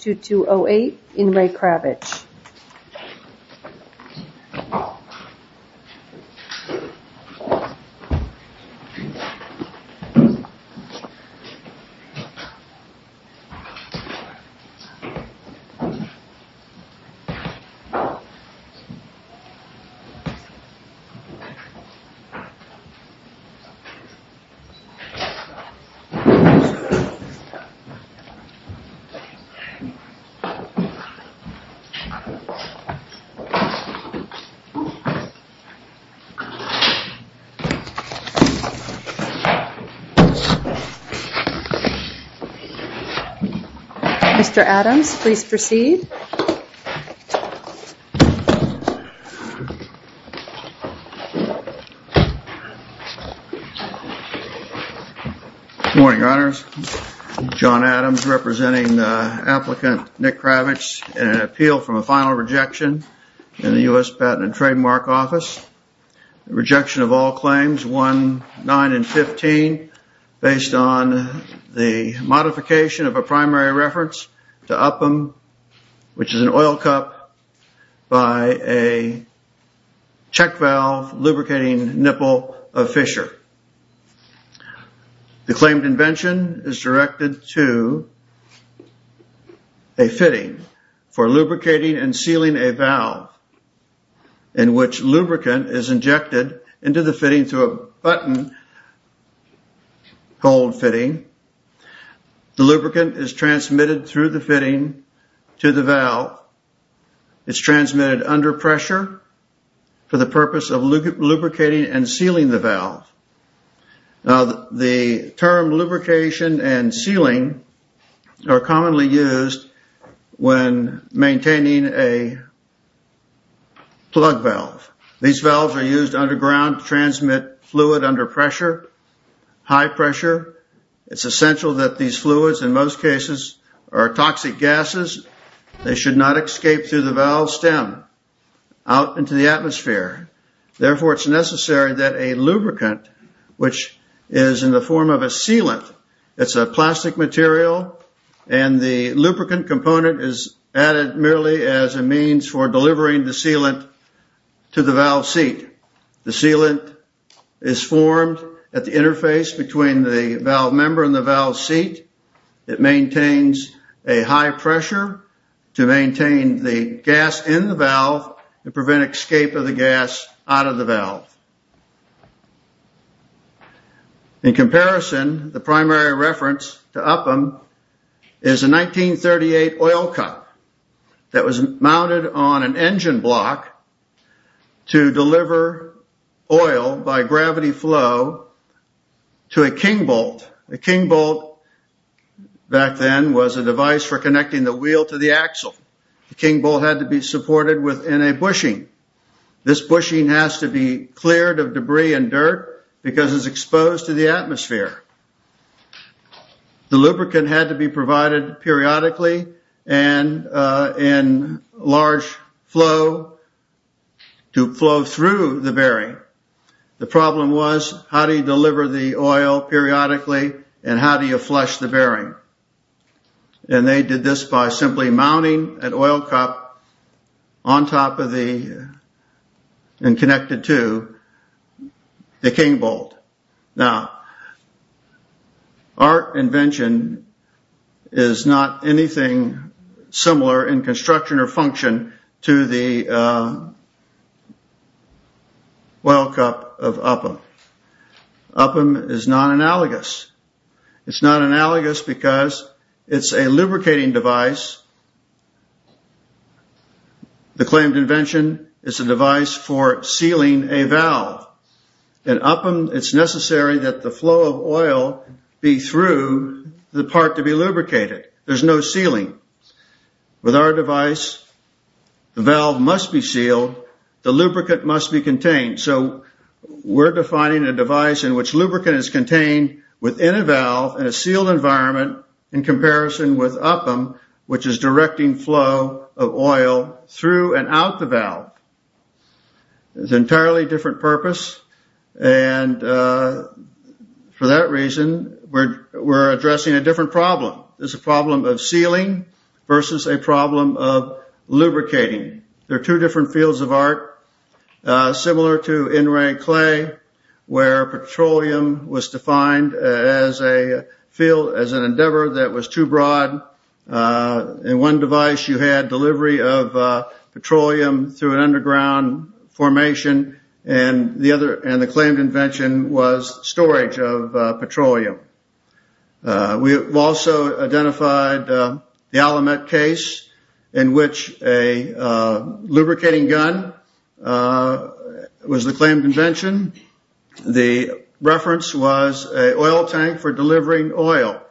2-2-0-8 in Re Kravitch Mr. Adams, please proceed. Good morning, Your Honors. John Adams representing applicant Nick Kravitch in an appeal from a final rejection in the U.S. Patent and Trademark Office. The rejection of all claims 1, 9, and 15 based on the modification of a primary reference to UPM, which is an oil cup by a check valve lubricating nipple of Fischer. The claimed invention is directed to a fitting for lubricating and sealing a valve in which lubricant is injected into the fitting through a button hold fitting. The lubricant is transmitted through the fitting to the valve. It's transmitted under pressure for the purpose of lubricating and sealing the valve. The term lubrication and sealing are commonly used when maintaining a plug valve. These valves are used underground to transmit fluid under pressure, high pressure. It's essential that these fluids, in most cases, are toxic gases. They should not escape through the valve stem out into the atmosphere. Therefore, it's necessary that a lubricant, which is in the form of a sealant. It's a plastic material and the lubricant component is added merely as a means for delivering the sealant to the valve seat. The sealant is formed at the interface between the valve member and the valve seat. It maintains a high pressure to maintain the gas in the valve and prevent escape of the gas out of the valve. In comparison, the primary reference to UPM is a 1938 oil cup that was mounted on an engine block to deliver oil by gravity flow to a king bolt. A king bolt back then was a device for connecting the wheel to the axle. The king bolt had to be supported within a bushing. This bushing has to be cleared of debris and dirt because it's exposed to the atmosphere. The lubricant had to be provided periodically and in large flow to flow through the bearing. The problem was, how do you deliver the oil periodically and how do you flush the bearing? And they did this by simply mounting an oil cup on top of the, and connected to, the king bolt. Now, our invention is not anything similar in construction or function to the oil cup of UPM. UPM is not analogous. It's not analogous because it's a lubricating device. The claimed invention is a device for sealing a valve. In UPM, it's necessary that the flow of oil be through the part to be lubricated. There's no sealing. With our device, the valve must be sealed. The lubricant must be contained. So we're defining a device in which lubricant is contained within a valve in a sealed environment in comparison with UPM, which is directing flow of oil through and out the valve. It's an entirely different purpose and for that reason, we're addressing a different problem. It's a problem of sealing versus a problem of lubricating. They're two different fields of art. Similar to in-ring clay, where petroleum was defined as a field, as an endeavor that was too broad. In one device, you had delivery of petroleum through an underground formation and the claimed invention was storage of petroleum. We have also identified the Alamet case in which a lubricating gun was the claimed invention. The reference was an oil tank for delivering oil.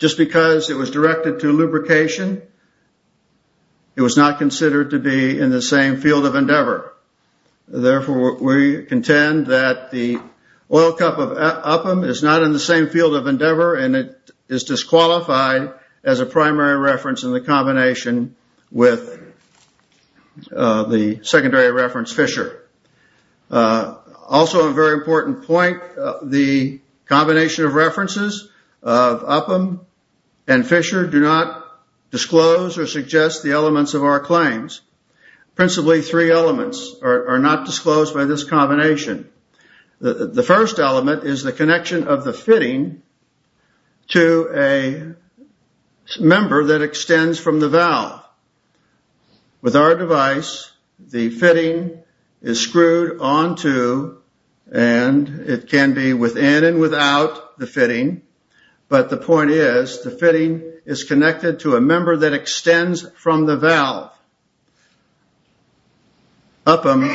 Just because it was directed to lubrication, it was not considered to be in the same field of endeavor. Therefore, we contend that the oil cup of UPM is not in the same field of endeavor and it is disqualified as a primary reference in the combination with the secondary reference, UPM and Fisher. Also, a very important point, the combination of references of UPM and Fisher do not disclose or suggest the elements of our claims. Principally, three elements are not disclosed by this combination. The first element is the connection of the fitting to a member that extends from the valve. With our device, the fitting is screwed onto and it can be within and without the fitting, but the point is the fitting is connected to a member that extends from the valve. UPM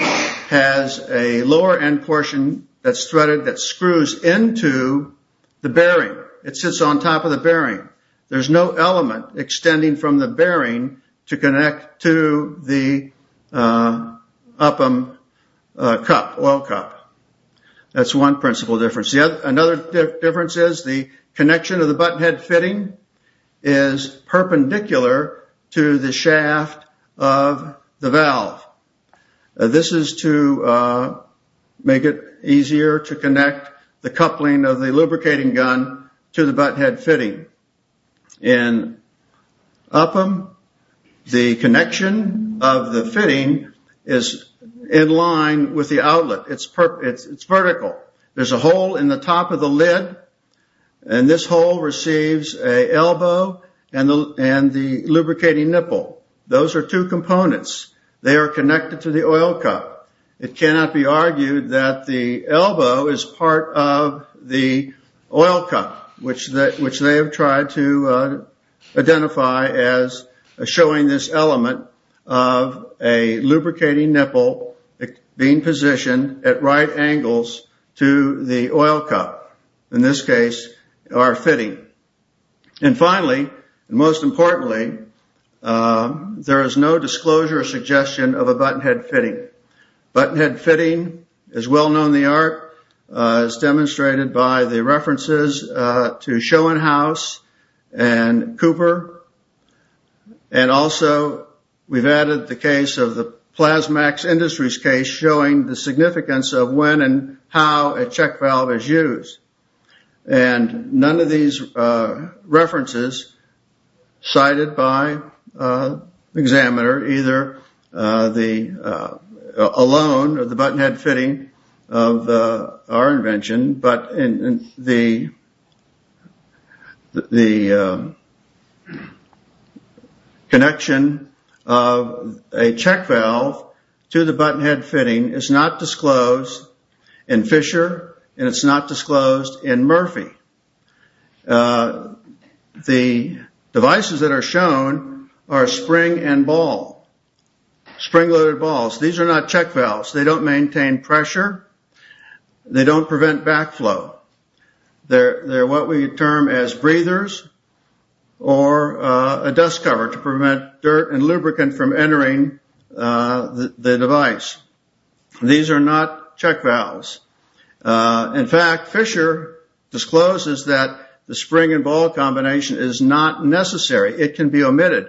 has a lower end portion that is threaded that screws into the bearing. There's no element extending from the bearing to connect to the UPM oil cup. That's one principle difference. Another difference is the connection of the button head fitting is perpendicular to the shaft of the valve. This is to make it easier to connect the coupling of the lubricating gun to the button head fitting. In UPM, the connection of the fitting is in line with the outlet, it's vertical. There's a hole in the top of the lid and this hole receives an elbow and the lubricating nipple. Those are two components. They are connected to the oil cup. It cannot be argued that the elbow is part of the oil cup, which they have tried to identify as showing this element of a lubricating nipple being positioned at right angles to the oil cup. In this case, our fitting. And finally, and most importantly, there is no disclosure or suggestion of a button head fitting. A button head fitting is well known in the art as demonstrated by the references to Schoenhaus and Cooper. And also, we've added the case of the Plasmax Industries case showing the significance of when and how a check valve is used. And none of these references cited by the examiner, either alone or the button head fitting of our invention, but the connection of a check valve to the button head fitting is not disclosed in Fisher and it's not disclosed in Murphy. The devices that are shown are spring and ball, spring-loaded balls. These are not check valves. They don't maintain pressure. They don't prevent backflow. They're what we term as breathers or a dust cover to prevent dirt and lubricant from entering the device. These are not check valves. In fact, Fisher discloses that the spring and ball combination is not necessary. It can be omitted.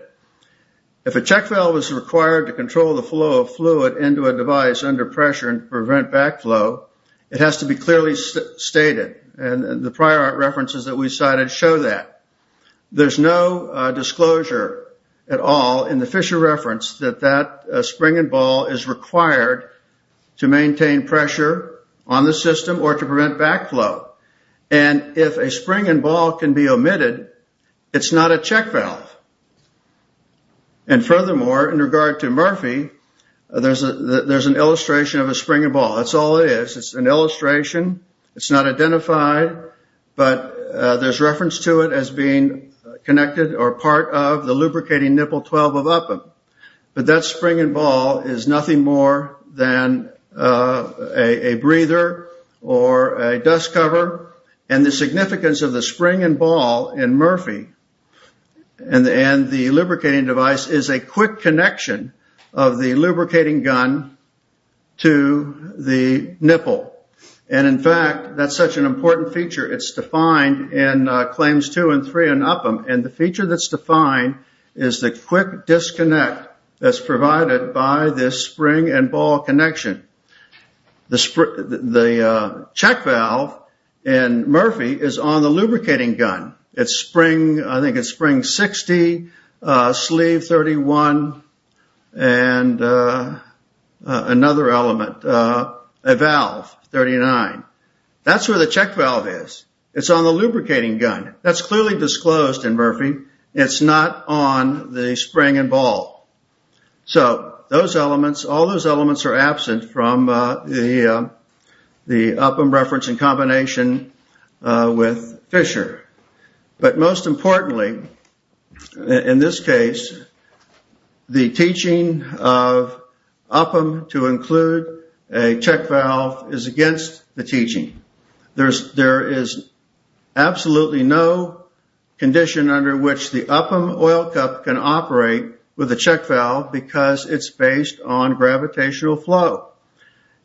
If a check valve is required to control the flow of fluid into a device under pressure and prevent backflow, it has to be clearly stated. And the prior references that we cited show that. There's no disclosure at all in the Fisher reference that that spring and ball is required to maintain pressure on the system or to prevent backflow. And if a spring and ball can be omitted, it's not a check valve. And furthermore, in regard to Murphy, there's an illustration of a spring and ball. That's all it is. It's an illustration. It's not identified, but there's reference to it as being connected or part of the lubricating nipple 12 of UPM. But that spring and ball is nothing more than a breather or a dust cover. And the significance of the spring and ball in Murphy and the lubricating device is a quick connection of the lubricating gun to the nipple. And in fact, that's such an important feature. It's defined in claims two and three in UPM. And the feature that's defined is the quick disconnect that's provided by this spring and ball connection. The check valve in Murphy is on the lubricating gun. It's spring, I think it's spring 60, sleeve 31, and another element, a valve 39. That's where the check valve is. It's on the lubricating gun. That's clearly disclosed in Murphy. It's not on the spring and ball. So those elements, all those elements are absent from the UPM reference in combination with Fisher. But most importantly, in this case, the teaching of UPM to include a check valve is against the teaching. There is absolutely no condition under which the UPM oil cup can operate with a check valve because it's based on gravitational flow.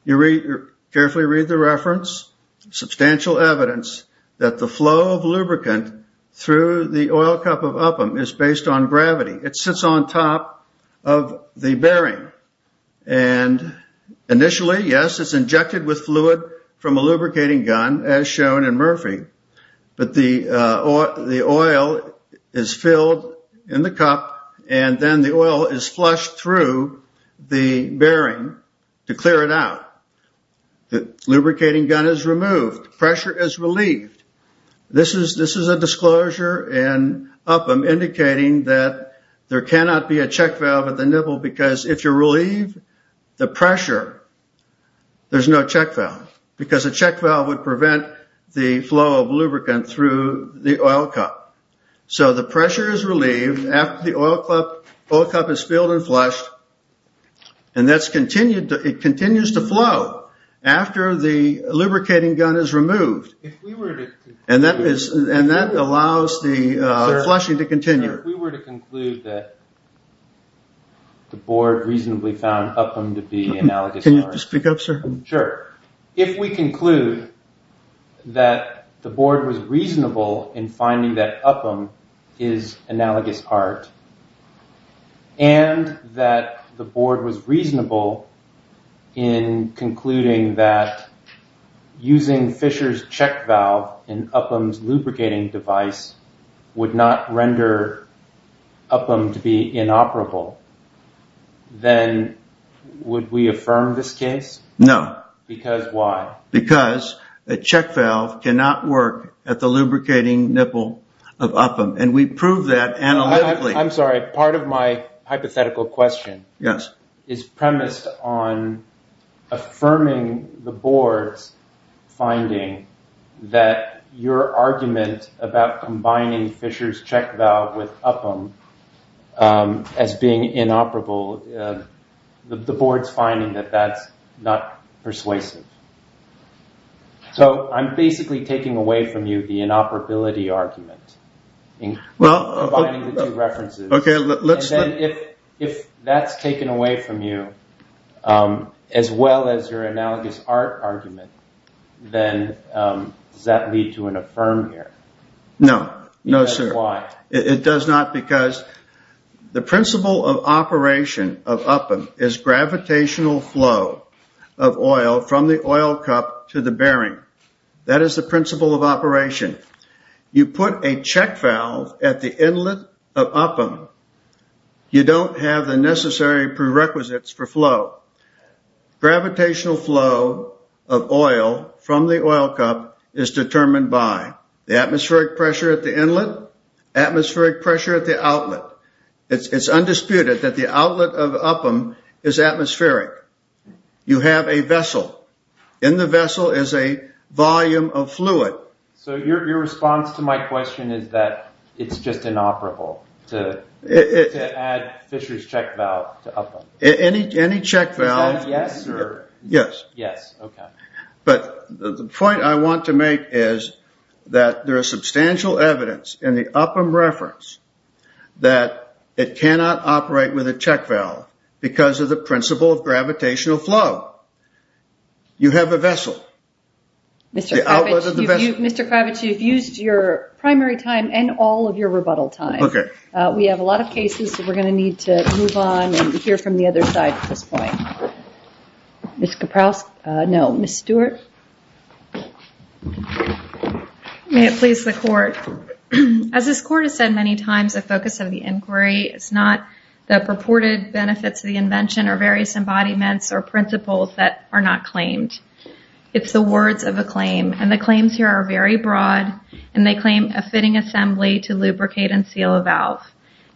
You read, carefully read the reference, substantial evidence that the flow of lubricant through the oil cup of UPM is based on gravity. It sits on top of the bearing. And initially, yes, it's injected with fluid from a lubricating gun as shown in Murphy. But the oil is filled in the cup and then the oil is flushed through the bearing to clear it out. The lubricating gun is removed. Pressure is relieved. This is a disclosure in UPM indicating that there cannot be a check valve at the nipple because if you're relieved, the pressure, there's no check valve because a check valve would prevent the flow of lubricant through the oil cup. So the pressure is relieved after the oil cup is filled and flushed. And that's continued, it continues to flow after the lubricating gun is removed. And that allows the flushing to continue. If we were to conclude that the board reasonably found UPM to be analogous art. Sure. If we conclude that the board was reasonable in finding that UPM is analogous art and that the board was reasonable in concluding that using Fisher's check valve in UPM's lubricating device would not render UPM to be inoperable, then would we affirm this case? No. Because why? Because a check valve cannot work at the lubricating nipple of UPM and we prove that analytically. I'm sorry. Part of my hypothetical question is premised on affirming the board's finding that your argument about combining Fisher's check valve with UPM as being inoperable, the board's finding that that's not persuasive. So I'm basically taking away from you the inoperability argument. Well... Combining the two references. Okay, let's... And then if that's taken away from you, as well as your analogous art argument, then does that lead to an affirm here? No. No, sir. Because why? It does not because the principle of operation of UPM is gravitational flow of oil from the oil cup to the bearing. That is the principle of operation. You put a check valve at the inlet of UPM, you don't have the necessary prerequisites for flow. Gravitational flow of oil from the oil cup is determined by the atmospheric pressure at the inlet, atmospheric pressure at the outlet. It's undisputed that the outlet of UPM is atmospheric. You have a vessel. In the vessel is a volume of fluid. So your response to my question is that it's just inoperable to add Fisher's check valve to UPM? Any check valve... Is that a yes? Yes. Yes. Okay. But the point I want to make is that there is substantial evidence in the UPM reference that it cannot operate with a check valve because of the principle of gravitational flow. You have a vessel. The outlet of the vessel? Mr. Kravich, you've used your primary time and all of your rebuttal time. We have a lot of cases, so we're going to need to move on and hear from the other side at this point. Ms. Kaprowski? No. Ms. Stewart? May it please the court. As this court has said many times, the focus of the inquiry is not the purported benefits of the invention or various embodiments or principles that are not claimed. It's the words of a claim, and the claims here are very broad, and they claim a fitting assembly to lubricate and seal a valve.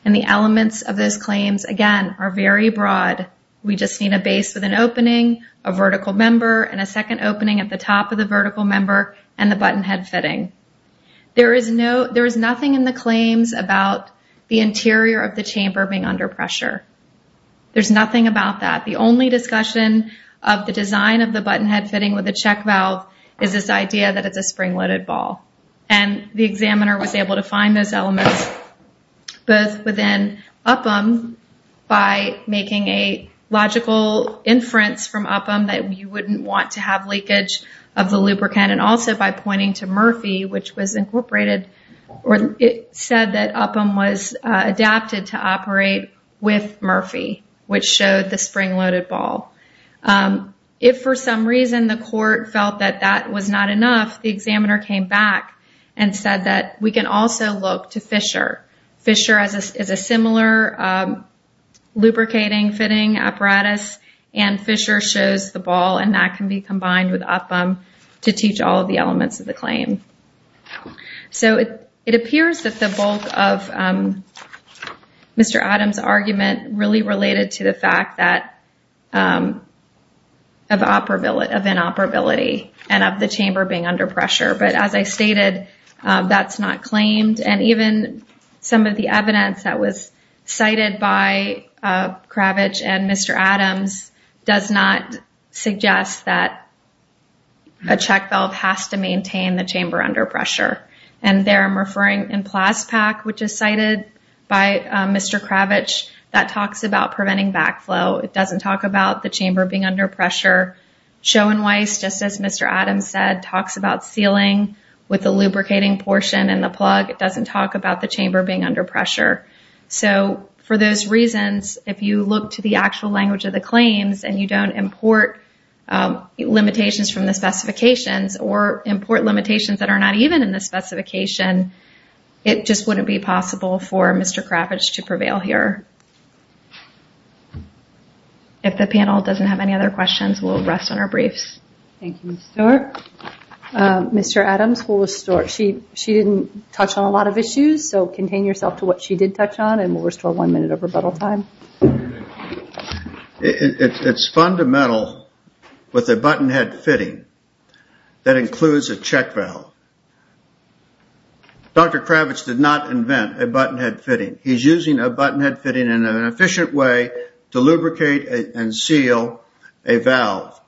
And the elements of those claims, again, are very broad. We just need a base with an opening, a vertical member, and a second opening at the top of the vertical member, and the button head fitting. There is nothing in the claims about the interior of the chamber being under pressure. There's nothing about that. The only discussion of the design of the button head fitting with a check valve is this idea that it's a spring-loaded ball. And the examiner was able to find those elements both within UPM by making a logical inference from UPM that you wouldn't want to have leakage of the lubricant, and also by pointing to Murphy, which was incorporated, or it said that UPM was adapted to operate with Murphy, which showed the spring-loaded ball. If for some reason the court felt that that was not enough, the examiner came back and said that we can also look to Fisher. Fisher is a similar lubricating fitting apparatus, and Fisher shows the ball, and that can be combined with UPM to teach all of the elements of the claim. So, it appears that the bulk of Mr. Adams' argument really related to the fact of inoperability and of the chamber being under pressure, but as I stated, that's not claimed, and even some of the evidence that was cited by Kravitch and Mr. Adams does not suggest that a check chamber under pressure. And there I'm referring in PLASPAC, which is cited by Mr. Kravitch, that talks about preventing backflow. It doesn't talk about the chamber being under pressure. Schoenweiss, just as Mr. Adams said, talks about sealing with the lubricating portion and the plug. It doesn't talk about the chamber being under pressure. So, for those reasons, if you look to the actual language of the claims and you don't import limitations from the specifications or import limitations that are not even in the specification, it just wouldn't be possible for Mr. Kravitch to prevail here. If the panel doesn't have any other questions, we'll rest on our briefs. Thank you, Ms. Stewart. Mr. Adams, she didn't touch on a lot of issues, so contain yourself to what she did touch on, and we'll restore one minute of rebuttal time. It's fundamental with a button head fitting that includes a check valve. Dr. Kravitch did not invent a button head fitting. He's using a button head fitting in an efficient way to lubricate and seal a valve.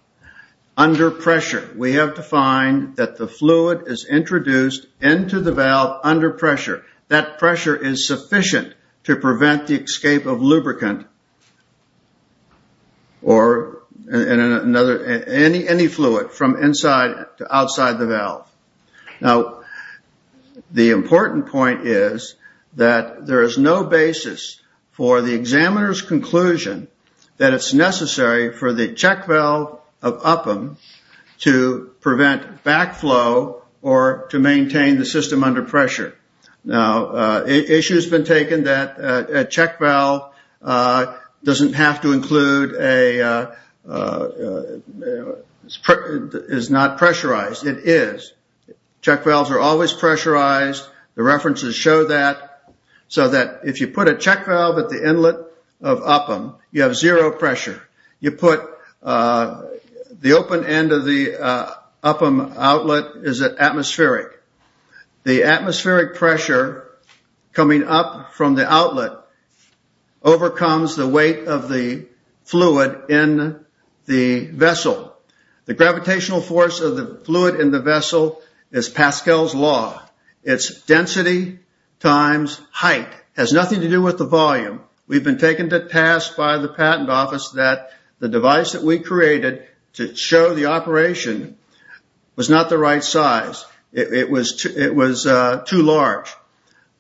Under pressure, we have defined that the fluid is introduced into the valve under pressure. That pressure is sufficient to prevent the escape of lubricant or any fluid from inside to outside the valve. Now, the important point is that there is no basis for the examiner's conclusion that it's necessary for the check valve of UPM to prevent backflow or to maintain the system under pressure. Now, an issue has been taken that a check valve doesn't have to include a – is not pressurized. It is. Check valves are always pressurized. The references show that. So that if you put a check valve at the inlet of UPM, you have zero pressure. You put – the open end of the UPM outlet is atmospheric. The atmospheric pressure coming up from the outlet overcomes the weight of the fluid in the vessel. The gravitational force of the fluid in the vessel is Pascal's Law. Its density times height has nothing to do with the volume. We've been taken to task by the patent office that the device that we created to show the operation was not the right size. It was too large.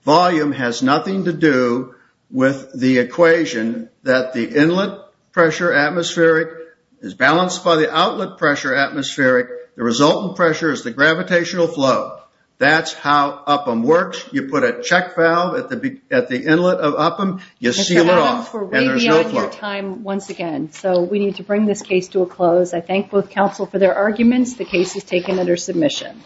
Volume has nothing to do with the equation that the inlet pressure atmospheric is balanced by the outlet pressure atmospheric. The resultant pressure is the gravitational flow. That's how UPM works. You put a check valve at the inlet of UPM, you seal it off, and there's no flow. Mr. Adams, we're way beyond your time once again. So we need to bring this case to a close. I thank both counsel for their arguments. The case is taken under submission.